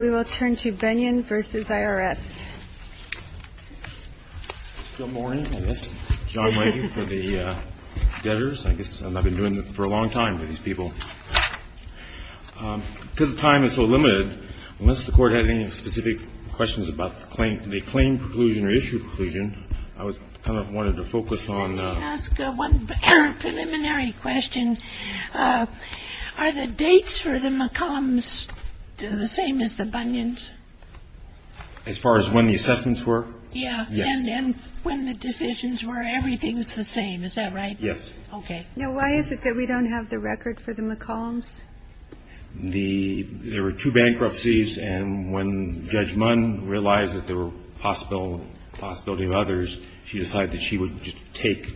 I guess I've been doing this for a long time for these people. Because the time is so limited, unless the court had any specific questions about the claim, the claim preclusion or issue preclusion, I was kind of wanted to focus on. Are the dates for the McCombs the same as the Bunyans? As far as when the assessments were? Yeah. And when the decisions were, everything's the same. Is that right? Yes. Okay. Now, why is it that we don't have the record for the McCombs? The – there were two bankruptcies, and when Judge Munn realized that there were possibility of others, she decided that she would just take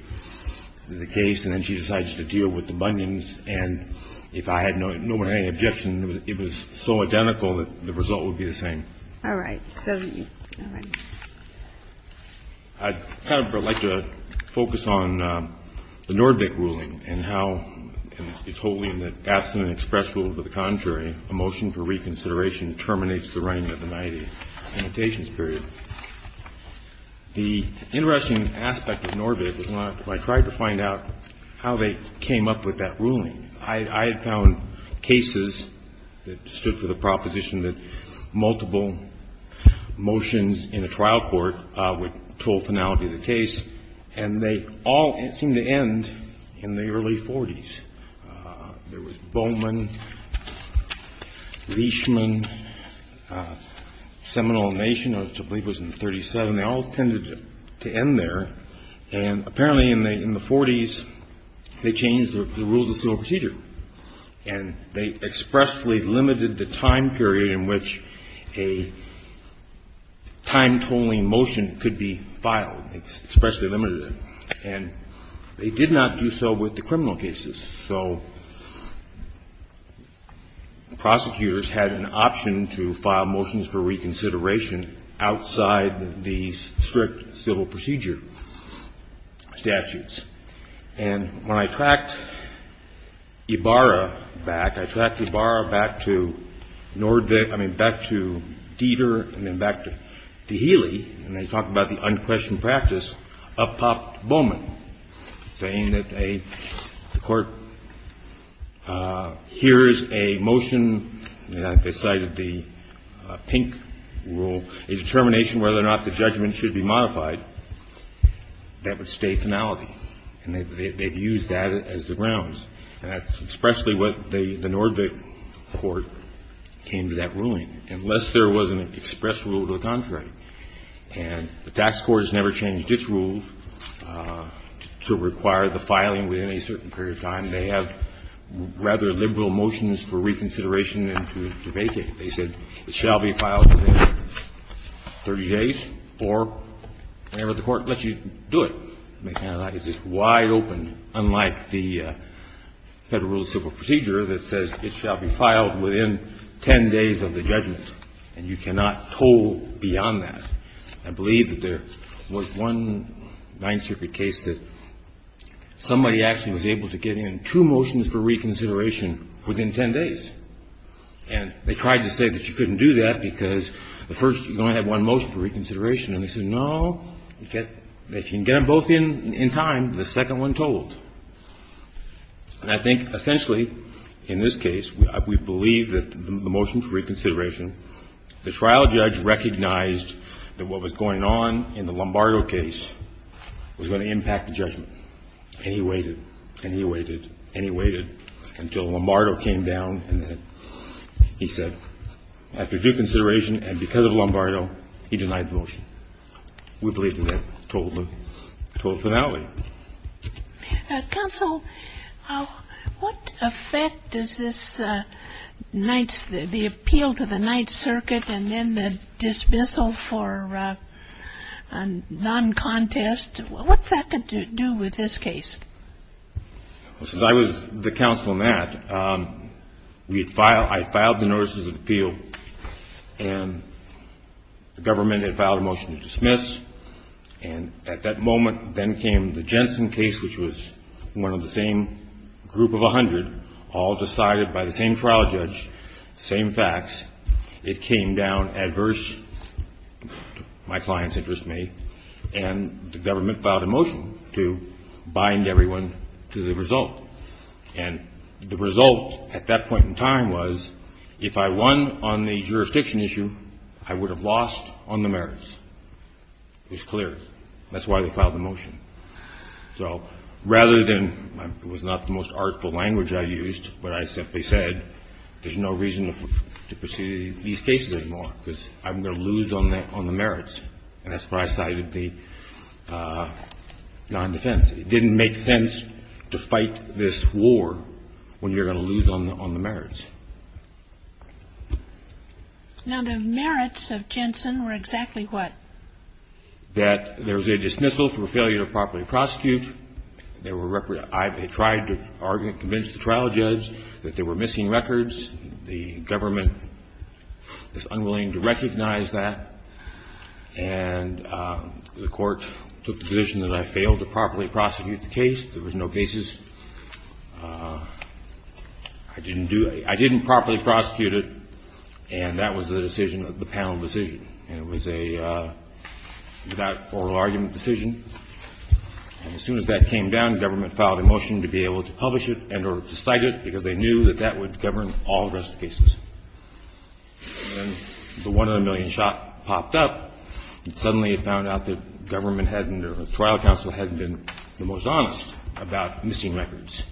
the case, and then she decides to deal with the Bunyans. And if I had no objection, it was so identical that the result would be the same. All right. I'd kind of like to focus on the Norvig ruling and how it's wholly in the abstinent express rule, but the contrary, a motion for reconsideration terminates the writing of the 90 limitations period. The interesting aspect of Norvig was when I tried to find out how they came up with that ruling, I had found cases that stood for the proposition that multiple motions in a trial court would toll finality of the case, and they all seemed to end in the early 40s. There was Bowman, Leishman, Seminole Nation, which I believe was in the 37. They all tended to end there. And apparently in the 40s, they changed the rules of civil procedure, and they expressly limited the time period in which a time-tolling motion could be filed. They expressly limited it. And they did not do so with the criminal cases. So prosecutors had an option to file motions for reconsideration outside the strict civil procedure statutes. And when I tracked Ibarra back, I tracked Ibarra back to Norvig — I mean, back to Deter and then back to Healy, and they talked about the unquestioned practice of Pop Bowman, saying that a court hears a motion, and I cited the pink rule, a determination whether or not the judgment should be modified, that would stay finality. And they've used that as the grounds. And that's expressly what the Norvig court came to that ruling, unless there was an express rule to the contrary. And the tax court has never changed its rules to require the filing within a certain period of time. They have rather liberal motions for reconsideration and to vacate it. They said it shall be filed within 30 days or whenever the court lets you do it. It's just wide open, unlike the Federal rule of civil procedure that says it shall be filed within 10 days of the judgment. And you cannot toll beyond that. I believe that there was one Ninth Circuit case that somebody actually was able to get in two motions for reconsideration within 10 days. And they tried to say that you couldn't do that because the first — you only had one motion for reconsideration. And they said, no, if you can get them both in in time, the second one tolled. And I think essentially, in this case, we believe that the motion for reconsideration, the trial judge recognized that what was going on in the Lombardo case was going to impact the judgment. And he waited and he waited and he waited until Lombardo came down, and then he said, after due consideration and because of Lombardo, he denied the motion. We believe that that told the finale. Counsel, what effect does this Ninth — the appeal to the Ninth Circuit and then the dismissal for non-contest, what's that got to do with this case? Well, since I was the counsel in that, we had filed — I had filed the notices of appeal, and the government had filed a motion to dismiss. And at that moment, then came the Jensen case, which was one of the same group of 100, all decided by the same trial judge, the same facts. It came down adverse to my client's interest and me, and the government filed a motion to bind everyone to the result. And the result at that point in time was, if I won on the jurisdiction issue, I would have lost on the merits. It was clear. That's why we filed the motion. So rather than — it was not the most artful language I used, but I simply said, there's no reason to pursue these cases anymore because I'm going to lose on the merits. And that's where I cited the non-defense. It didn't make sense to fight this war when you're going to lose on the merits. Now, the merits of Jensen were exactly what? That there was a dismissal for failure to properly prosecute. There were — I tried to convince the trial judge that there were missing records. The government is unwilling to recognize that. And the court took the position that I failed to properly prosecute the case. There was no cases. I didn't do — I didn't properly prosecute it, and that was the decision of the panel decision. And it was a without oral argument decision. And as soon as that came down, the government filed a motion to be able to publish it and or to cite it because they knew that that would govern all the rest of the cases. And then the one in a million shot popped up, and suddenly it found out that government hadn't or the trial counsel hadn't been the most honest about missing records.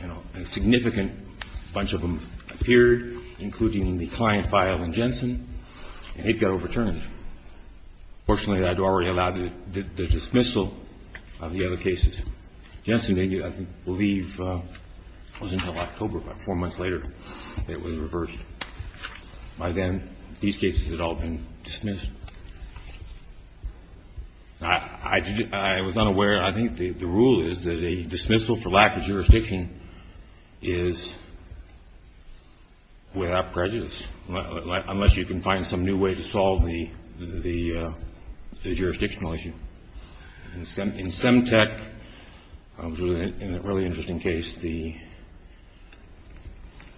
And a significant bunch of them appeared, including the client file in Jensen, and it got overturned. Fortunately, I'd already allowed the dismissal of the other cases. Jensen, I believe, was in Hellas Cobra about four months later. It was reversed by then. These cases had all been dismissed. I was unaware. I think the rule is that a dismissal for lack of jurisdiction is without prejudice, unless you can find some new way to solve the jurisdictional issue. In Semtec, it was a really interesting case. The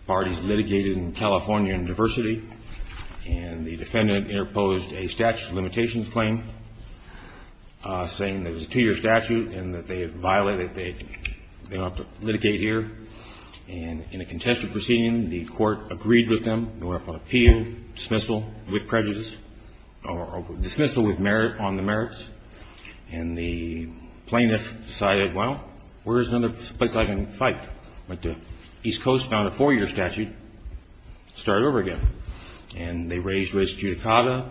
parties litigated in California in diversity, and the defendant interposed a statute of limitations claim saying that it was a two-year statute and that they violated it, they don't have to litigate here. And in a contested proceeding, the court agreed with them, and went up on appeal, dismissal with prejudice, or dismissal on the merits. And the plaintiff decided, well, where is another place I can fight? Went to East Coast, found a four-year statute, started over again. And they raised raised judicata,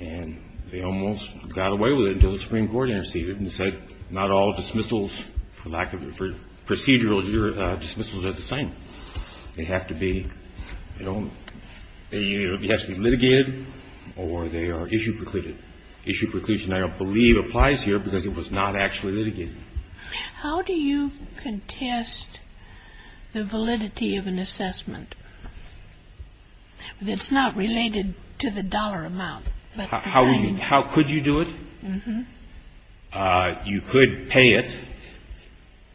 and they almost got away with it until the Supreme Court interceded and said not all dismissals for lack of procedural dismissals are the same. They have to be litigated or they are issue precluded. Issue preclusion, I believe, applies here because it was not actually litigated. How do you contest the validity of an assessment that's not related to the dollar amount? How could you do it? Uh-huh. You could pay it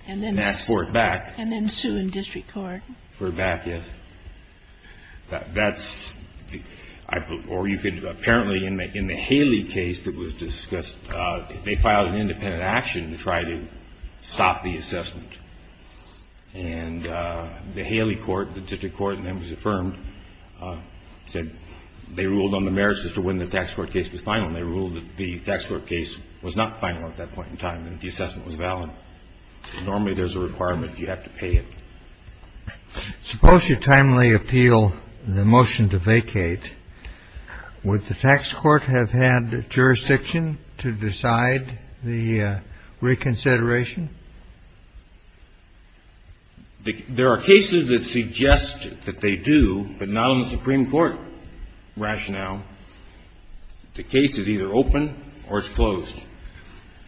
and ask for it back. And then sue in district court. For it back, yes. That's, or you could, apparently, in the Haley case that was discussed, they filed an independent action to try to stop the assessment. And the Haley court, the district court, and then it was affirmed, said they ruled on the merits as to when the tax court case was final. And they ruled that the tax court case was not final at that point in time and the assessment was valid. Normally there's a requirement you have to pay it. Suppose you timely appeal the motion to vacate. Would the tax court have had jurisdiction to decide the reconsideration? There are cases that suggest that they do, but not on the Supreme Court rationale. The case is either open or it's closed.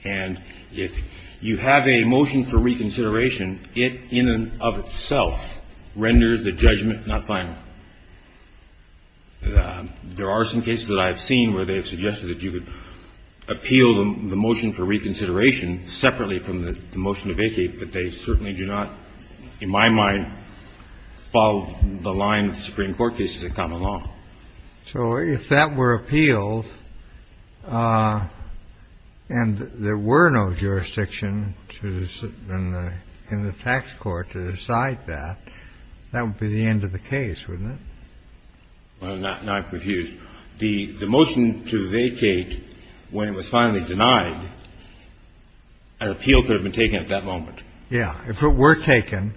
And if you have a motion for reconsideration, it in and of itself renders the judgment not final. There are some cases that I have seen where they have suggested that you could appeal the motion for reconsideration separately from the motion to vacate, but they certainly do not, in my mind, follow the line of Supreme Court cases of common law. So if that were appealed and there were no jurisdiction in the tax court to decide that, that would be the end of the case, wouldn't it? Well, now I'm confused. The motion to vacate, when it was finally denied, an appeal could have been taken at that moment. Yeah. If it were taken,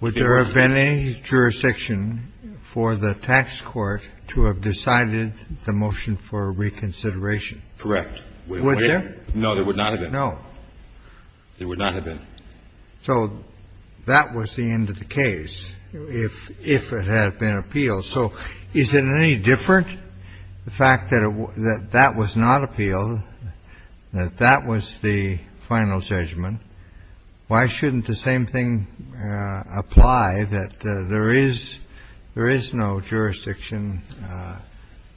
would there have been any jurisdiction for the tax court to have decided the motion for reconsideration? Correct. Would there? No, there would not have been. No. There would not have been. So that was the end of the case, if it had been appealed. So is it any different, the fact that that was not appealed, that that was the final judgment, why shouldn't the same thing apply, that there is no jurisdiction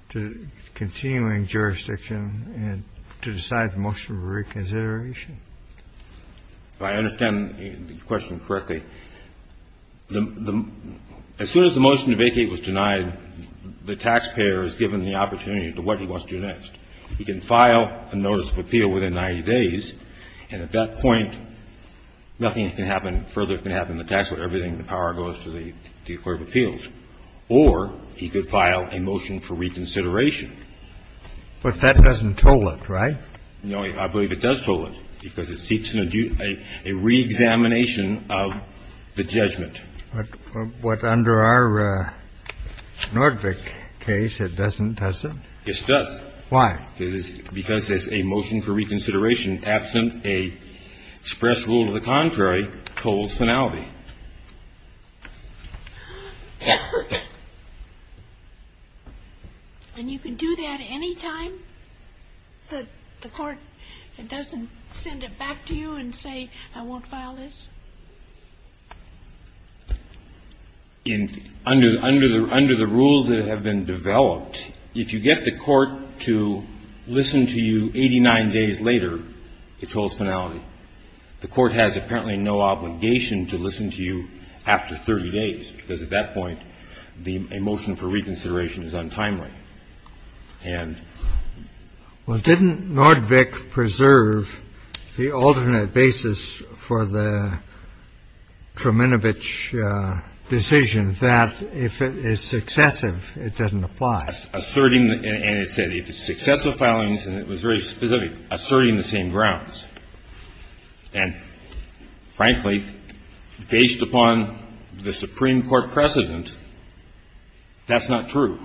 to the continuing jurisdiction to decide the motion for reconsideration? If I understand the question correctly, as soon as the motion to vacate was denied, the taxpayer is given the opportunity to what he wants to do next. He can file a notice of appeal within 90 days, and at that point, nothing can happen, further can happen, the tax court, everything, the power goes to the court of appeals. Or he could file a motion for reconsideration. But that doesn't toll it, right? No, I believe it does toll it, because it seeks a reexamination of the judgment. But under our Nordvig case, it doesn't, does it? It does. Why? Because it's a motion for reconsideration, absent a express rule of the contrary tolls finality. And you can do that anytime? The court doesn't send it back to you and say, I won't file this? Under the rules that have been developed, if you get the court to listen to you 89 days later, it tolls finality. The court has apparently no obligation to listen to you after 30 days, because at that point, a motion for reconsideration is untimely. Well, didn't Nordvig preserve the alternate basis for the Treminovich decision that, if it's successive, it doesn't apply? Asserting. And it said, successful filing and it was really specific, asserting the same grounds, and frankly, based upon the Supreme Court precedent, that's not true.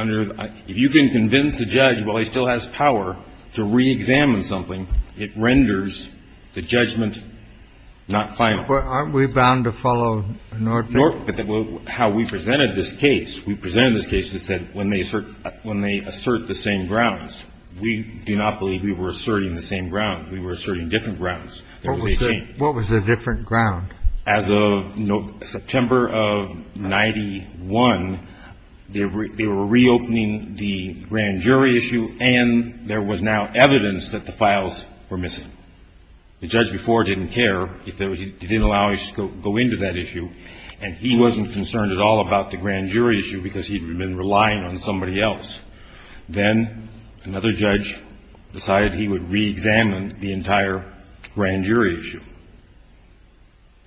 If you can convince a judge while he still has power to reexamine something, it renders the judgment not final. But aren't we bound to follow Nordvig? How we presented this case, we presented this case and said, when they assert the same grounds, we do not believe we were asserting the same grounds. We were asserting different grounds. What was the different ground? As of September of 1991, they were reopening the grand jury issue and there was now evidence that the files were missing. The judge before didn't care. He didn't allow it to go into that issue and he wasn't concerned at all about the grand jury issue because he had been relying on somebody else. Then another judge decided he would reexamine the entire grand jury issue.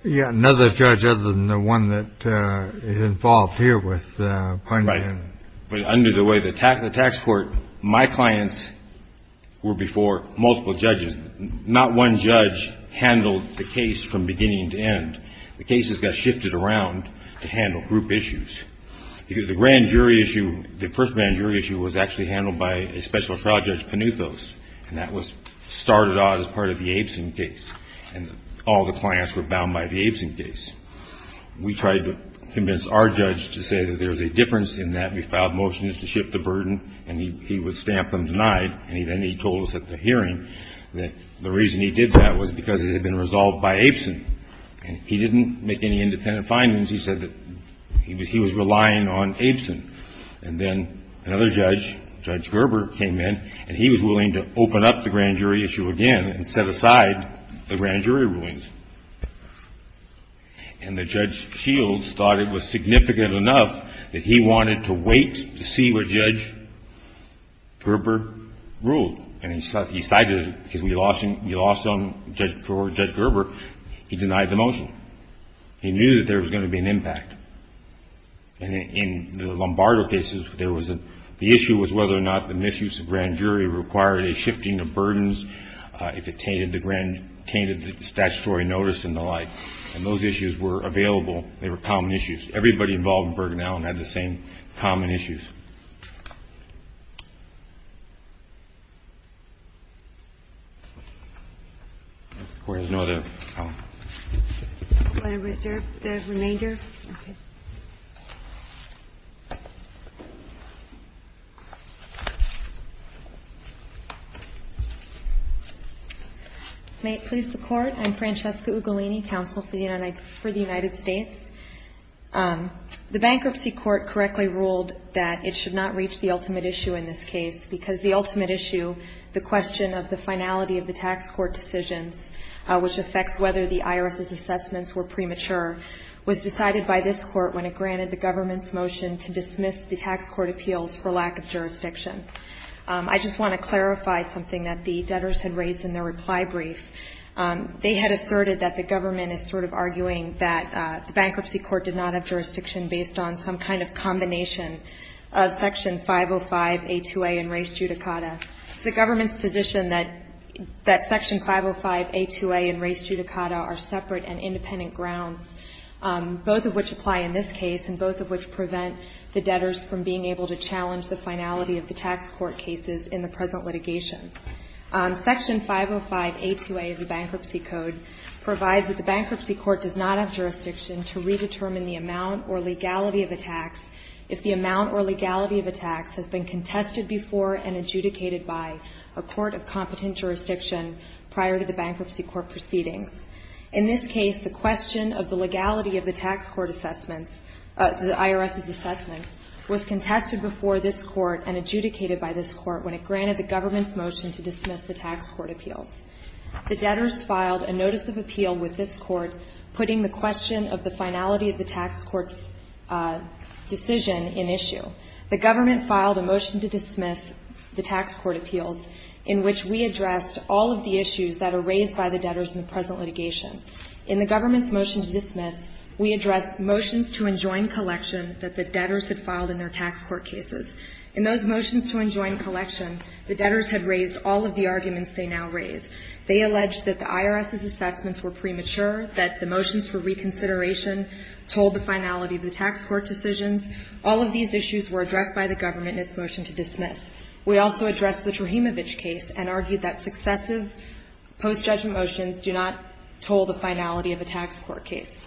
Yeah. Another judge other than the one that is involved here with Pineda. But under the way of the tax court, my clients were before multiple judges, not one judge handled the case from beginning to end. The cases got shifted around to handle group issues. The grand jury issue, the first grand jury issue, was actually handled by a special trial judge, Panucos, and that was started out as part of the Abeson case. And all the clients were bound by the Abeson case. We tried to convince our judge to say that there was a difference in that we filed motions to shift the burden and he would stamp them denied. And then he told us at the hearing that the reason he did that was because it had been resolved by Abeson. And he didn't make any independent findings. He said that he was relying on Abeson. And then another judge, Judge Gerber, came in and he was willing to open up the grand jury issue again and set aside the grand jury rulings. And the Judge Shields thought it was significant enough that he wanted to wait to see what Judge Gerber ruled. And he cited it because we lost him before Judge Gerber, he denied the motion. He knew that there was going to be an impact. And in the Lombardo cases, there was a – the issue was whether or not the misuse of grand jury required a shifting of burdens if it tainted the grand – tainted the statutory notice and the like. And those issues were available. They were common issues. Everybody involved in Bergen-Allen had the same common issues. There's no other comment. I'm going to reserve the remainder. May it please the Court, I'm Francesca Ugolini, counsel for the United States. The Bankruptcy Court correctly ruled that it should not reach the ultimate issue in this case because the ultimate issue, the question of the finality of the tax court decisions, which affects whether the IRS's assessments were premature, was decided by this Court when it granted the government's motion to dismiss the tax court appeals for lack of jurisdiction. I just want to clarify something that the debtors had raised in their reply brief. They had asserted that the government is sort of arguing that the Bankruptcy Court did not have jurisdiction based on some kind of combination of Section 505, A2A, and Res Judicata. It's the government's position that Section 505, A2A, and Res Judicata are separate and independent grounds, both of which apply in this case and both of which prevent the debtors from being able to challenge the finality of the tax court cases in the present litigation. Section 505, A2A of the Bankruptcy Code provides that the Bankruptcy Court does not have jurisdiction to redetermine the amount or legality of a tax if the amount or legality of a tax has been contested before and adjudicated by a court of competent jurisdiction prior to the Bankruptcy Court proceedings. In this case, the question of the legality of the tax court assessments, the IRS's assessments, was contested before this Court and adjudicated by this Court when it granted the government's motion to dismiss the tax court appeals. The debtors filed a notice of appeal with this Court putting the question of the finality of the tax court's decision in issue. The government filed a motion to dismiss the tax court appeals in which we addressed all of the issues that are raised by the debtors in the present litigation. In the government's motion to dismiss, we addressed motions to enjoin collection that the debtors had filed in their tax court cases. In those motions to enjoin collection, the debtors had raised all of the arguments they now raise. They alleged that the IRS's assessments were premature, that the motions for reconsideration told the finality of the tax court decisions. All of these issues were addressed by the government in its motion to dismiss. We also addressed the Trujillo case and argued that successive post-judgment motions do not told the finality of a tax court case.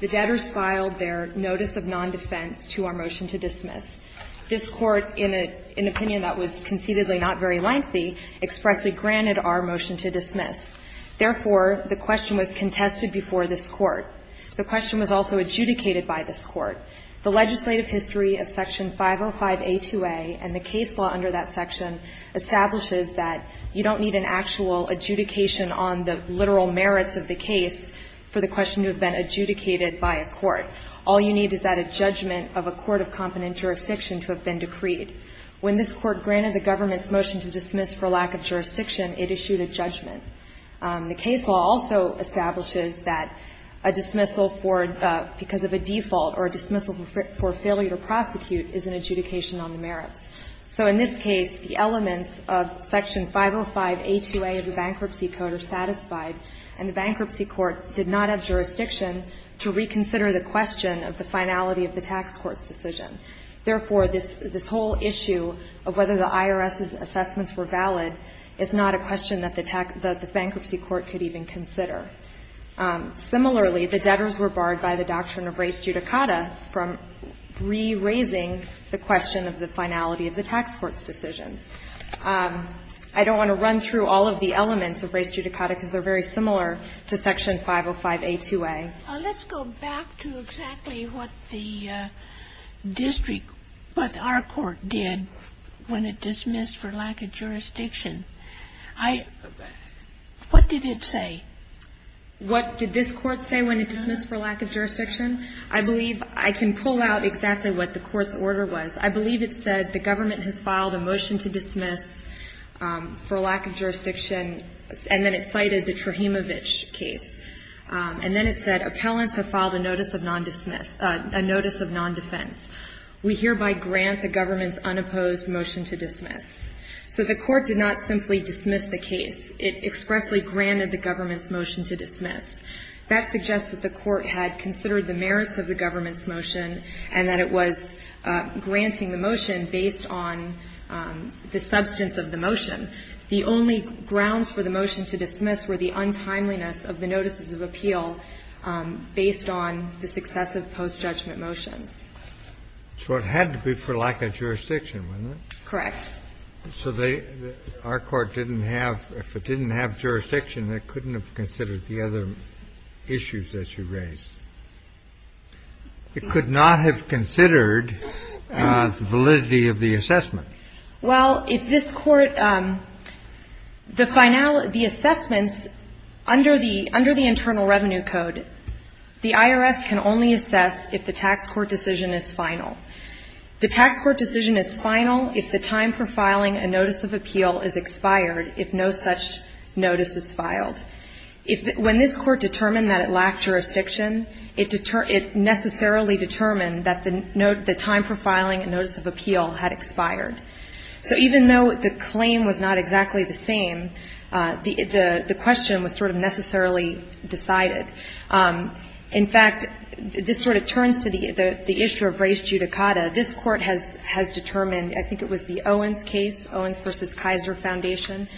The debtors filed their notice of nondefense to our motion to dismiss. This Court, in an opinion that was conceitedly not very lengthy, expressly granted our motion to dismiss. Therefore, the question was contested before this Court. The question was also adjudicated by this Court. The legislative history of Section 505A2A and the case law under that section establishes that you don't need an actual adjudication on the literal merits of the case for the question to have been adjudicated by a court. All you need is that a judgment of a court of competent jurisdiction to have been decreed. When this Court granted the government's motion to dismiss for lack of jurisdiction, it issued a judgment. The case law also establishes that a dismissal for, because of a default or a dismissal for failure to prosecute is an adjudication on the merits. So in this case, the elements of Section 505A2A of the Bankruptcy Code are satisfied, and the Bankruptcy Court did not have jurisdiction to reconsider the question of the finality of the tax court's decision. Therefore, this whole issue of whether the IRS's assessments were valid is not a question that the Bankruptcy Court could even consider. Similarly, the debtors were barred by the doctrine of res judicata from re-raising the question of the finality of the tax court's decisions. I don't want to run through all of the elements of res judicata because they're very similar to Section 505A2A. Let's go back to exactly what the district, what our court did when it dismissed for lack of jurisdiction. I, what did it say? What did this Court say when it dismissed for lack of jurisdiction? I believe I can pull out exactly what the Court's order was. I believe it said the government has filed a motion to dismiss for lack of jurisdiction, and then it cited the Trahimovich case. And then it said appellants have filed a notice of nondismiss, a notice of nondefense. We hereby grant the government's unopposed motion to dismiss. So the Court did not simply dismiss the case. It expressly granted the government's motion to dismiss. That suggests that the Court had considered the merits of the government's motion and that it was granting the motion based on the substance of the motion. The only grounds for the motion to dismiss were the untimeliness of the notices of appeal based on the successive post-judgment motions. So it had to be for lack of jurisdiction, wasn't it? Correct. So they, our court didn't have, if it didn't have jurisdiction, it couldn't have considered the other issues that you raised. It could not have considered the validity of the assessment. Well, if this Court, the final, the assessments under the, under the Internal Revenue Code, the IRS can only assess if the tax court decision is final. The tax court decision is final if the time for filing a notice of appeal is expired if no such notice is filed. If, when this Court determined that it lacked jurisdiction, it necessarily determined that the time for filing a notice of appeal had expired. So even though the claim was not exactly the same, the question was sort of necessarily decided. In fact, this sort of turns to the issue of res judicata. This Court has determined, I think it was the Owens case, Owens v. Kaiser Foundation,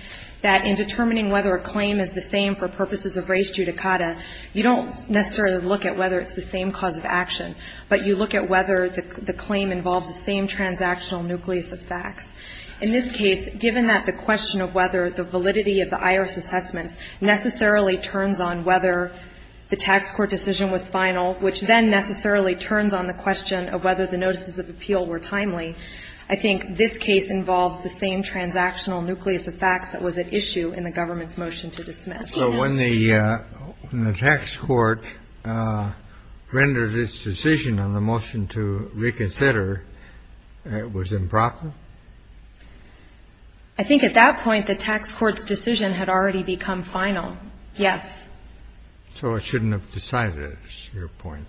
that in determining whether a claim is the same for purposes of res judicata, you don't necessarily look at whether it's the same cause of action, but you look at whether the claim involves the same transactional nucleus of facts. In this case, given that the question of whether the validity of the IRS assessments necessarily turns on whether the tax court decision was final, which then necessarily turns on the question of whether the notices of appeal were timely, I think this case involves the same transactional nucleus of facts that was at issue in the government's motion to dismiss. So when the tax court rendered its decision on the motion to reconsider, it was improper? I think at that point, the tax court's decision had already become final. Yes. So it shouldn't have decided at this point?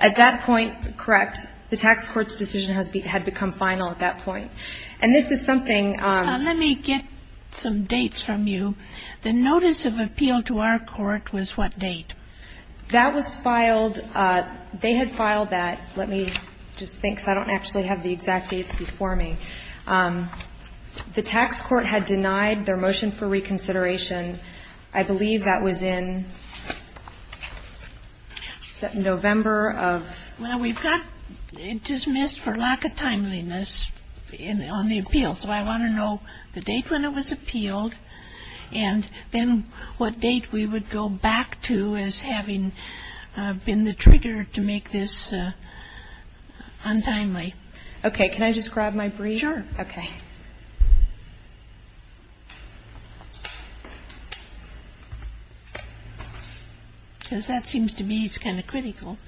At that point, correct. The tax court's decision had become final at that point. And this is something ---- Let me get some dates from you. The notice of appeal to our court was what date? That was filed. They had filed that. Let me just think because I don't actually have the exact dates before me. The tax court had denied their motion for reconsideration. I believe that was in November of ---- Well, we've got it dismissed for lack of timeliness on the appeal. So I want to know the date when it was appealed and then what date we would go back to as having been the trigger to make this untimely. Okay. Can I just grab my brief? Sure. Okay. Because that seems to me it's kind of critical.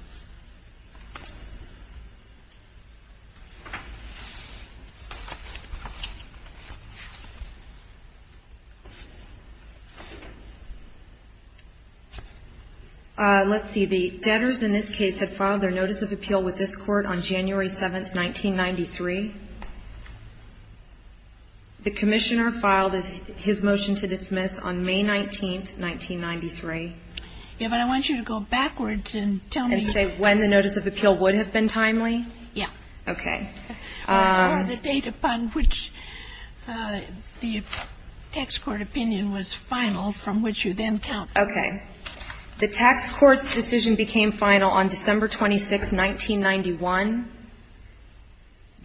Let's see. The debtors in this case had filed their notice of appeal with this Court on January 7, 1993. The Commissioner filed his motion to dismiss on May 19, 1993. Yeah, but I want you to go backwards and tell me ---- And say when the notice of appeal would have been timely? Yeah. Okay. Or the date upon which the tax court opinion was final from which you then count. Okay. The tax court's decision became final on December 26, 1991.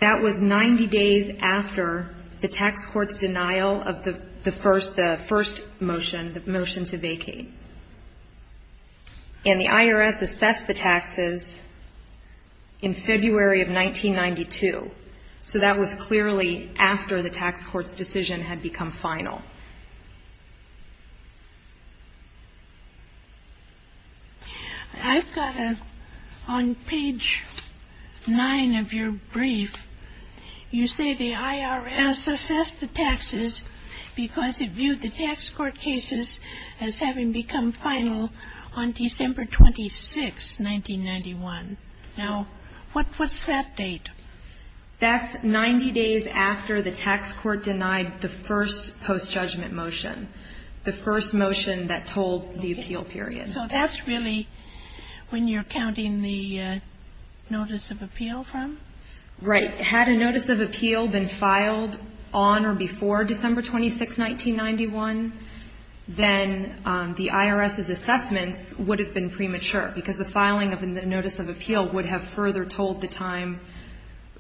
That was 90 days after the tax court's denial of the first motion, the motion to vacate. And the IRS assessed the taxes in February of 1992. So that was clearly after the tax court's decision had become final. I've got a ---- On page 9 of your brief, you say the IRS assessed the taxes because it viewed the tax court cases as having become final on December 26, 1991. Now, what's that date? That's 90 days after the tax court denied the first post-judgment motion, the first motion that told the appeal period. So that's really when you're counting the notice of appeal from? Right. Had a notice of appeal been filed on or before December 26, 1991, then the IRS's assessments would have been premature because the filing of the notice of appeal would have further told the time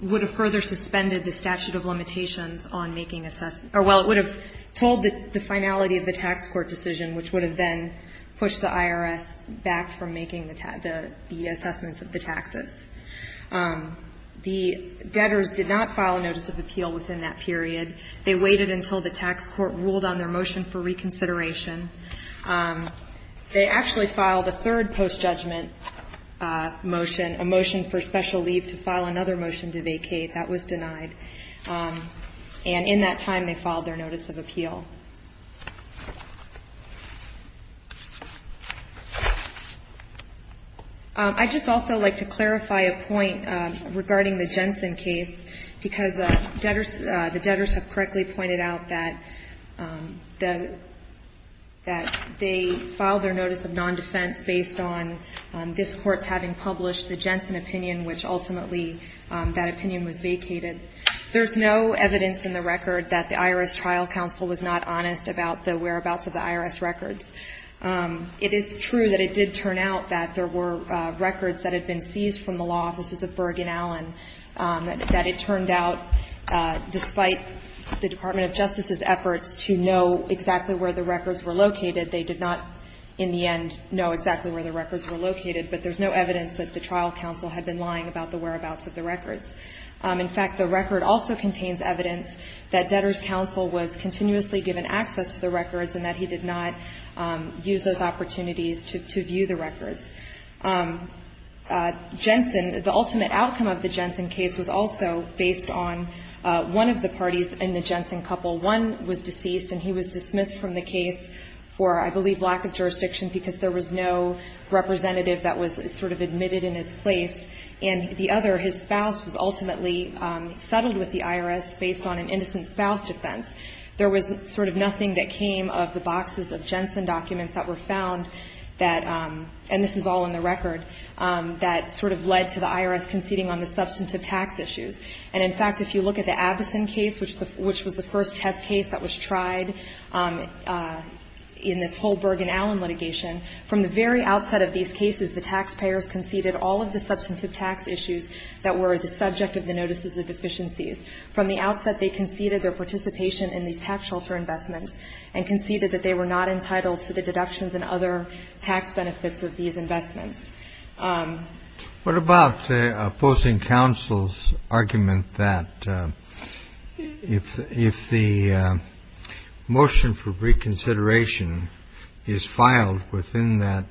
---- would have further suspended the statute of limitations on making assessments or, well, it would have told the finality of the tax court decision, which would have then pushed the IRS back from making the assessments of the taxes. The debtors did not file a notice of appeal within that period. They waited until the tax court ruled on their motion for reconsideration. They actually filed a third post-judgment motion, a motion for special leave to file another motion to vacate. That was denied. And in that time, they filed their notice of appeal. I'd just also like to clarify a point regarding the Jensen case, because debtors ---- the debtors have correctly pointed out that the ---- that they filed their notice of non-defense based on this Court's having published the Jensen opinion, which ultimately that opinion was vacated. There's no evidence in the record that the IRS trial counsel was not honest about the whereabouts of the IRS records. It is true that it did turn out that there were records that had been seized from the law offices of Berg and Allen, that it turned out, despite the Department of Justice's efforts to know exactly where the records were located, they did not, in the end, know exactly where the records were located. But there's no evidence that the trial counsel had been lying about the whereabouts of the records. In fact, the record also contains evidence that debtors' counsel was continuously given access to the records and that he did not use those opportunities to view the records. Jensen ---- the ultimate outcome of the Jensen case was also based on one of the parties in the Jensen couple. One was deceased, and he was dismissed from the case for, I believe, lack of jurisdiction, because there was no representative that was sort of admitted in his place. And the other, his spouse, was ultimately settled with the IRS based on an innocent spouse defense. There was sort of nothing that came of the boxes of Jensen documents that were found that ---- and this is all in the record ---- that sort of led to the IRS conceding on the substantive tax issues. And, in fact, if you look at the Abbeson case, which was the first test case that was tried in this whole Berg and Allen litigation, from the very outset of these cases, the taxpayers conceded all of the substantive tax issues that were the subject of the notices of deficiencies. From the outset, they conceded their participation in these tax shelter investments and conceded that they were not entitled to the deductions and other tax benefits of these investments. What about opposing counsel's argument that if the motion for reconsideration is filed within that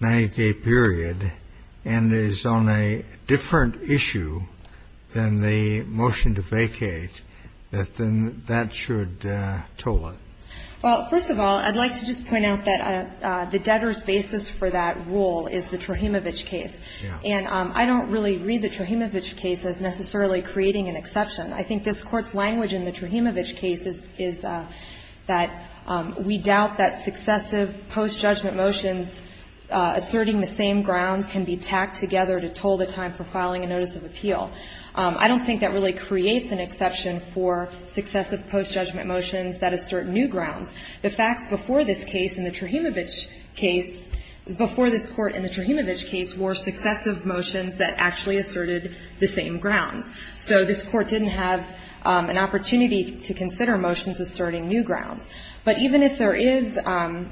90-day period and is on a different issue than the motion to vacate, that then that should toll it? Well, first of all, I'd like to just point out that the debtor's basis for that rule is the Trojimovic case. And I don't really read the Trojimovic case as necessarily creating an exception. I think this Court's language in the Trojimovic case is that we doubt that successive post-judgment motions asserting the same grounds can be tacked together to toll the time for filing a notice of appeal. I don't think that really creates an exception for successive post-judgment motions that assert new grounds. The facts before this case in the Trojimovic case, before this Court in the Trojimovic case, were successive motions that actually asserted the same grounds. So this Court didn't have an opportunity to consider motions asserting new grounds. But even if there is, even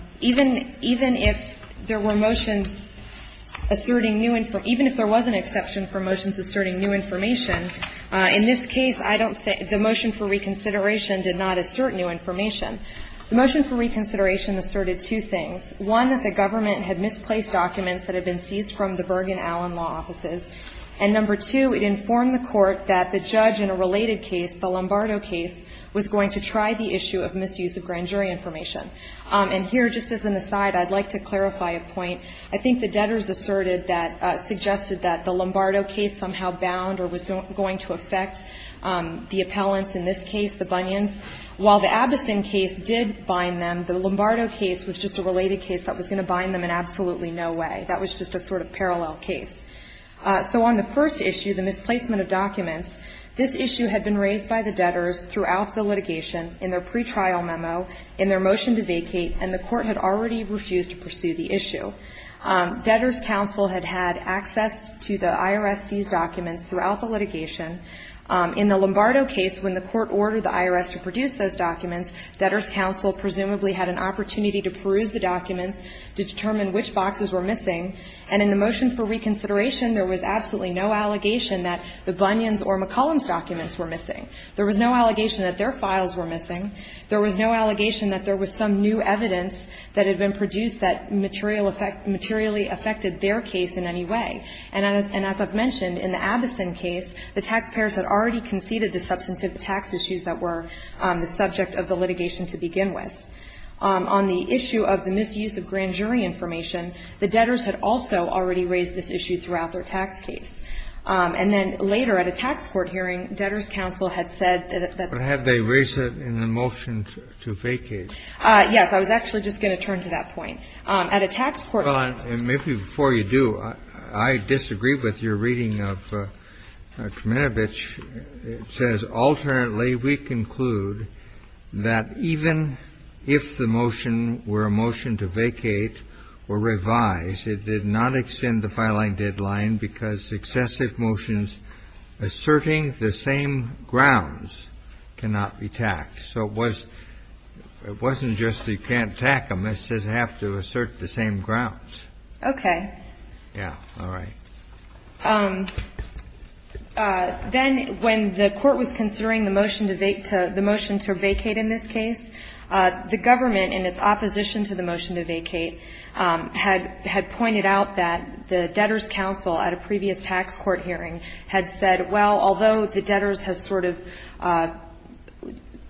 if there were motions asserting new, even if there was an exception for motions asserting new information, in this case, I don't think the motion for reconsideration did not assert new information. The motion for reconsideration asserted two things. One, that the government had misplaced documents that had been seized from the Bergen-Allen Law Offices. And number two, it informed the Court that the judge in a related case, the Lombardo case, was going to try the issue of misuse of grand jury information. And here, just as an aside, I'd like to clarify a point. I think the debtors asserted that, suggested that the Lombardo case somehow bound or was going to affect the appellants in this case, the Bunions. While the Abdesen case did bind them, the Lombardo case was just a related case that was going to bind them in absolutely no way. That was just a sort of parallel case. So on the first issue, the misplacement of documents, this issue had been raised by the debtors throughout the litigation, in their pretrial memo, in their motion to vacate, and the Court had already refused to pursue the issue. Debtors' counsel had had access to the IRS seized documents throughout the litigation. In the Lombardo case, when the Court ordered the IRS to produce those documents, debtors' counsel presumably had an opportunity to peruse the documents to determine which boxes were missing. And in the motion for reconsideration, there was absolutely no allegation that the Bunions' or McCollum's documents were missing. There was no allegation that their files were missing. There was no allegation that there was some new evidence that had been produced that materially affected their case in any way. And as I've mentioned, in the Abdesen case, the taxpayers had already conceded the substantive tax issues that were the subject of the litigation to begin with. On the issue of the misuse of grand jury information, the debtors had also already raised this issue throughout their tax case. And then later, at a tax court hearing, debtors' counsel had said that they were going to make a motion to vacate. Yes. I was actually just going to turn to that point. At a tax court hearing ---- Well, and maybe before you do, I disagree with your reading of Kraminovich. It says, ''Alternately, we conclude that even if the motion were a motion to vacate or revise, it did not extend the filing deadline because successive motions asserting the same grounds cannot be taxed.'' So it wasn't just you can't tax them. It says you have to assert the same grounds. Okay. Yeah. All right. Then when the Court was considering the motion to vacate in this case, the government in its opposition to the motion to vacate had pointed out that the debtors' counsel at a previous tax court hearing had said, well, although the debtors have sort of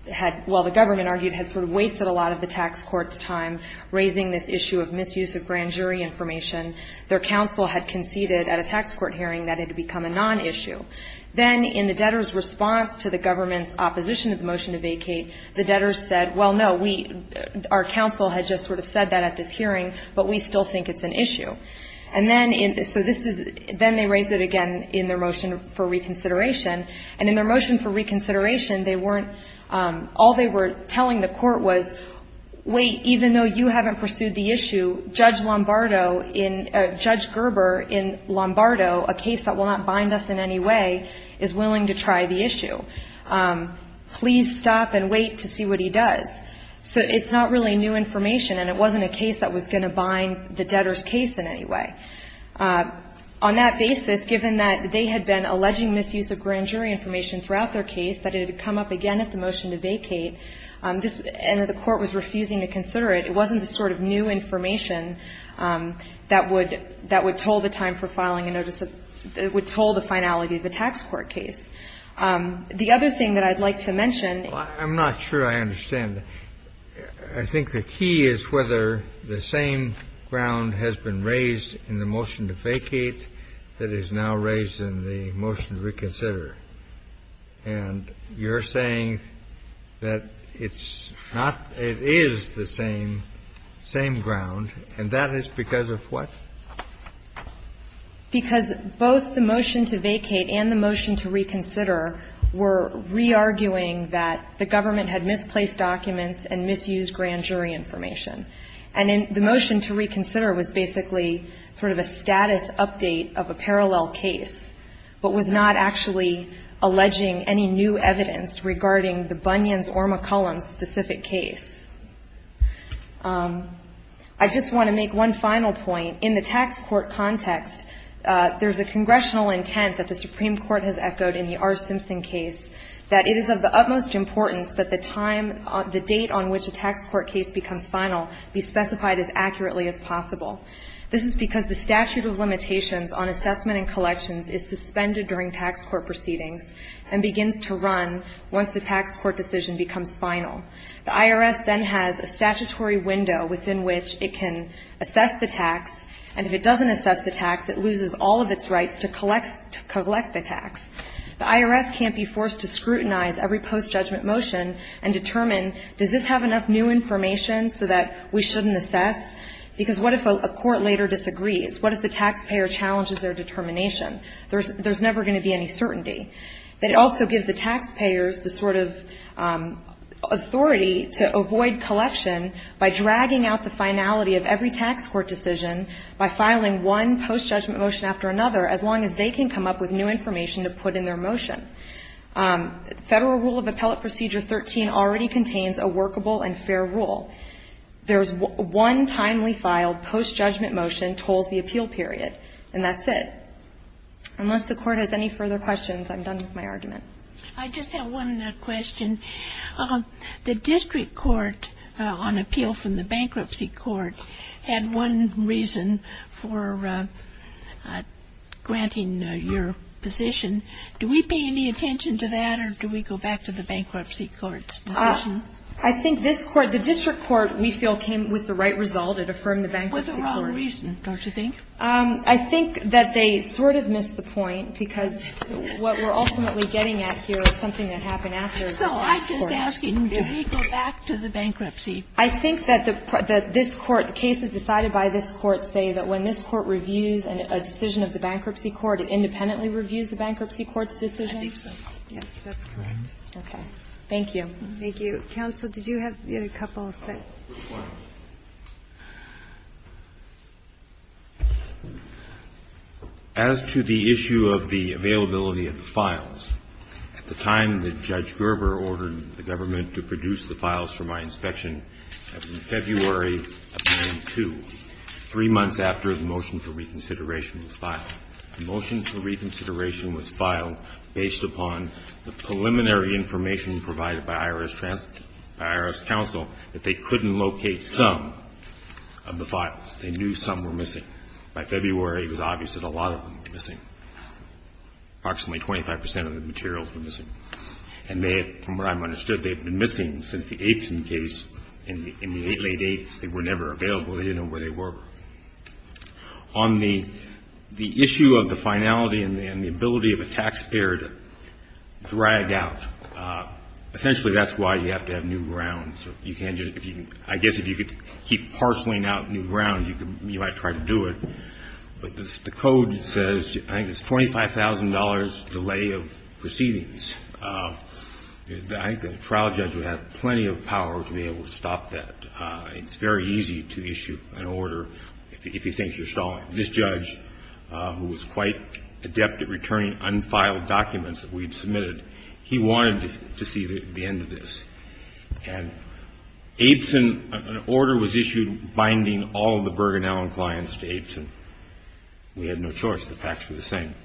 had ---- well, the government argued had sort of wasted a lot of the tax court's time raising this issue of misuse of grand jury information, their counsel had conceded at a tax court hearing that it had become a nonissue. Then in the debtors' response to the government's opposition to the motion to vacate, the debtors said, well, no, we ---- our counsel had just sort of said that at this hearing, but we still think it's an issue. And then in ---- so this is ---- then they raised it again in their motion for reconsideration. And in their motion for reconsideration, they weren't ---- all they were telling the Court was, wait, even though you haven't pursued the issue, Judge Lombardo in ---- Judge Gerber in Lombardo, a case that will not bind us in any way, is willing to try the issue. Please stop and wait to see what he does. So it's not really new information, and it wasn't a case that was going to bind the debtors' case in any way. On that basis, given that they had been alleging misuse of grand jury information throughout their case, that it had come up again at the motion to vacate, this ---- and that the Court was refusing to consider it, it wasn't the sort of new information that would ---- that would toll the time for filing a notice of ---- that would toll the finality of the tax court case. The other thing that I'd like to mention ---- I'm not sure I understand. I think the key is whether the same ground has been raised in the motion to vacate that is now raised in the motion to reconsider. And you're saying that it's not ---- it is the same, same ground, and that is because of what? Because both the motion to vacate and the motion to reconsider were re-arguing that the government had misplaced documents and misused grand jury information. And the motion to reconsider was basically sort of a status update of a parallel case, but was not actually alleging any new evidence regarding the Bunyan's or McCollum's specific case. I just want to make one final point. In the tax court context, there's a congressional intent that the Supreme Court has the date on which a tax court case becomes final be specified as accurately as possible. This is because the statute of limitations on assessment and collections is suspended during tax court proceedings and begins to run once the tax court decision becomes final. The IRS then has a statutory window within which it can assess the tax, and if it doesn't assess the tax, it loses all of its rights to collect the tax. The IRS can't be forced to scrutinize every post-judgment motion and determine, does this have enough new information so that we shouldn't assess? Because what if a court later disagrees? What if the taxpayer challenges their determination? There's never going to be any certainty. It also gives the taxpayers the sort of authority to avoid collection by dragging out the finality of every tax court decision by filing one post-judgment motion after another as long as they can come up with new information to put in their motion. Federal Rule of Appellate Procedure 13 already contains a workable and fair rule. There's one timely filed post-judgment motion tolls the appeal period, and that's it. Unless the Court has any further questions, I'm done with my argument. I just have one question. The district court on appeal from the bankruptcy court had one reason for granting your position. Do we pay any attention to that, or do we go back to the bankruptcy court's decision? I think the district court, we feel, came with the right result. It affirmed the bankruptcy court's decision. What's the wrong reason, don't you think? I think that they sort of missed the point because what we're ultimately getting at here is something that happened after the bankruptcy court. So I'm just asking, do we go back to the bankruptcy? I think that this Court, the cases decided by this Court say that when this Court reviews a decision of the bankruptcy court, it independently reviews the bankruptcy court's decision. I think so. Yes, that's correct. Okay. Thank you. Thank you. Counsel, did you have a couple of statements? Which ones? As to the issue of the availability of the files, at the time that Judge Gerber ordered the government to produce the files for my inspection, that was in February of 2002, three months after the motion for reconsideration was filed. The motion for reconsideration was filed based upon the preliminary information provided by IRS counsel that they couldn't locate some of the files. They knew some were missing. By February, it was obvious that a lot of them were missing. Approximately 25 percent of the materials were missing. And they had, from what I understood, they had been missing since the Abeson case in the late, late eights. They were never available. They didn't know where they were. On the issue of the finality and the ability of a taxpayer to drag out, essentially that's why you have to have new grounds. I guess if you could keep parceling out new grounds, you might try to do it. But the code says, I think it's $25,000 delay of proceedings. I think a trial judge would have plenty of power to be able to stop that. It's very easy to issue an order if he thinks you're stalling. This judge, who was quite adept at returning unfiled documents that we had submitted, he wanted to see the end of this. And Abeson, an order was issued binding all the Bergen Allen clients to Abeson. We had no choice. The facts were the same.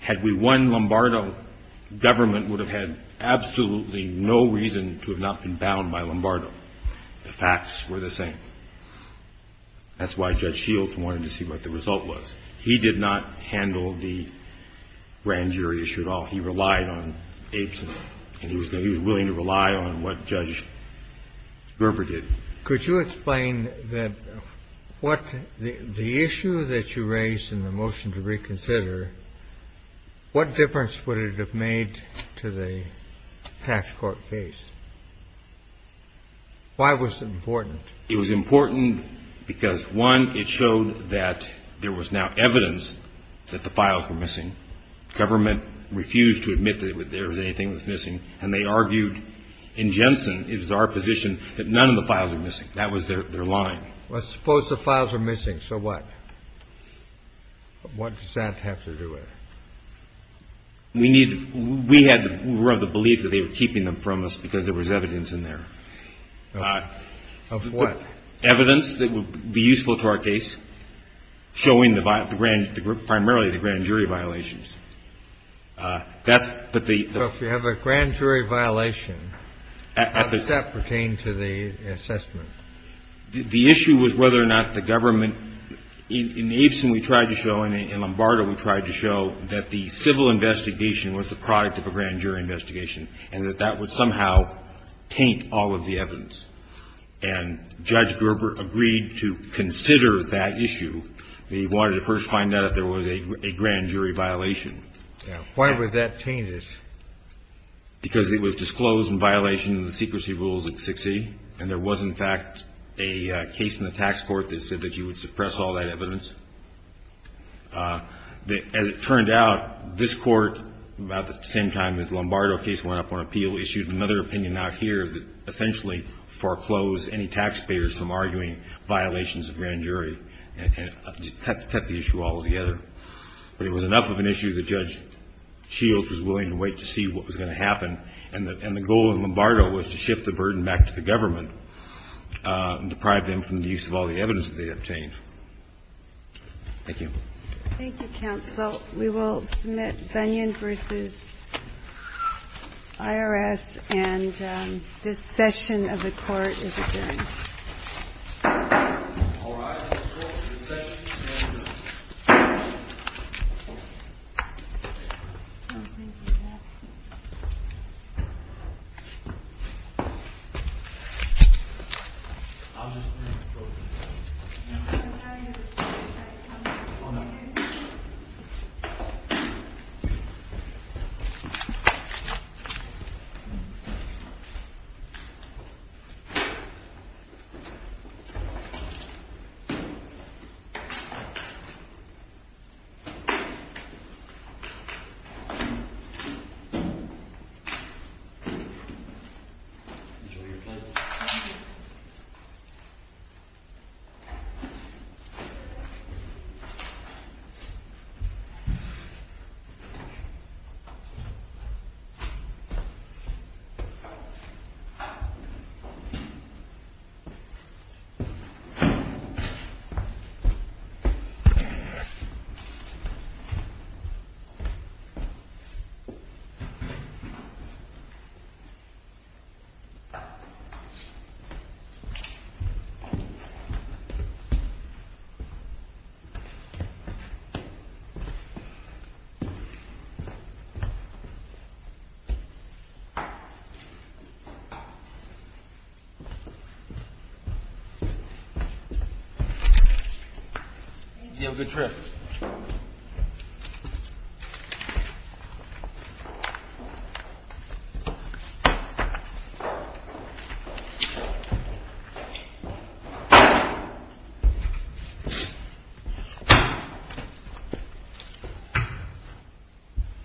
Had we won Lombardo, government would have had absolutely no reason to have not been bound by Lombardo. The facts were the same. That's why Judge Shields wanted to see what the result was. He did not handle the grand jury issue at all. He relied on Abeson, and he was willing to rely on what Judge Gerber did. Could you explain that what the issue that you raised in the motion to reconsider, what difference would it have made to the tax court case? Why was it important? It was important because, one, it showed that there was now evidence that the files were missing. Government refused to admit that there was anything that was missing. And they argued in Jensen, it is our position, that none of the files are missing. That was their line. Well, suppose the files are missing. So what? What does that have to do with it? We had the belief that they were keeping them from us because there was evidence in there. Of what? Evidence that would be useful to our case, showing primarily the grand jury violations. So if you have a grand jury violation, how does that pertain to the assessment? The issue was whether or not the government – in Abeson we tried to show and in Lombardo we tried to show that the civil investigation was the product of a grand jury investigation and that that would somehow taint all of the evidence. And Judge Gerber agreed to consider that issue. He wanted to first find out if there was a grand jury violation. Why would that taint it? Because it was disclosed in violation of the secrecy rules at 6E. And there was, in fact, a case in the tax court that said that you would suppress all that evidence. As it turned out, this Court, about the same time as the Lombardo case went up on appeal, issued another opinion out here that essentially foreclosed any taxpayers from arguing violations of grand jury. And it cut the issue altogether. But it was enough of an issue that Judge Shields was willing to wait to see what was going to happen. And the goal in Lombardo was to shift the burden back to the government and deprive them from the use of all the evidence that they had obtained. Thank you. Thank you, counsel. We will submit Bunyan v. IRS. And this session of the Court is adjourned. All rise. The Court is adjourned. Thank you. The Court is adjourned. You have a good trip. Thank you.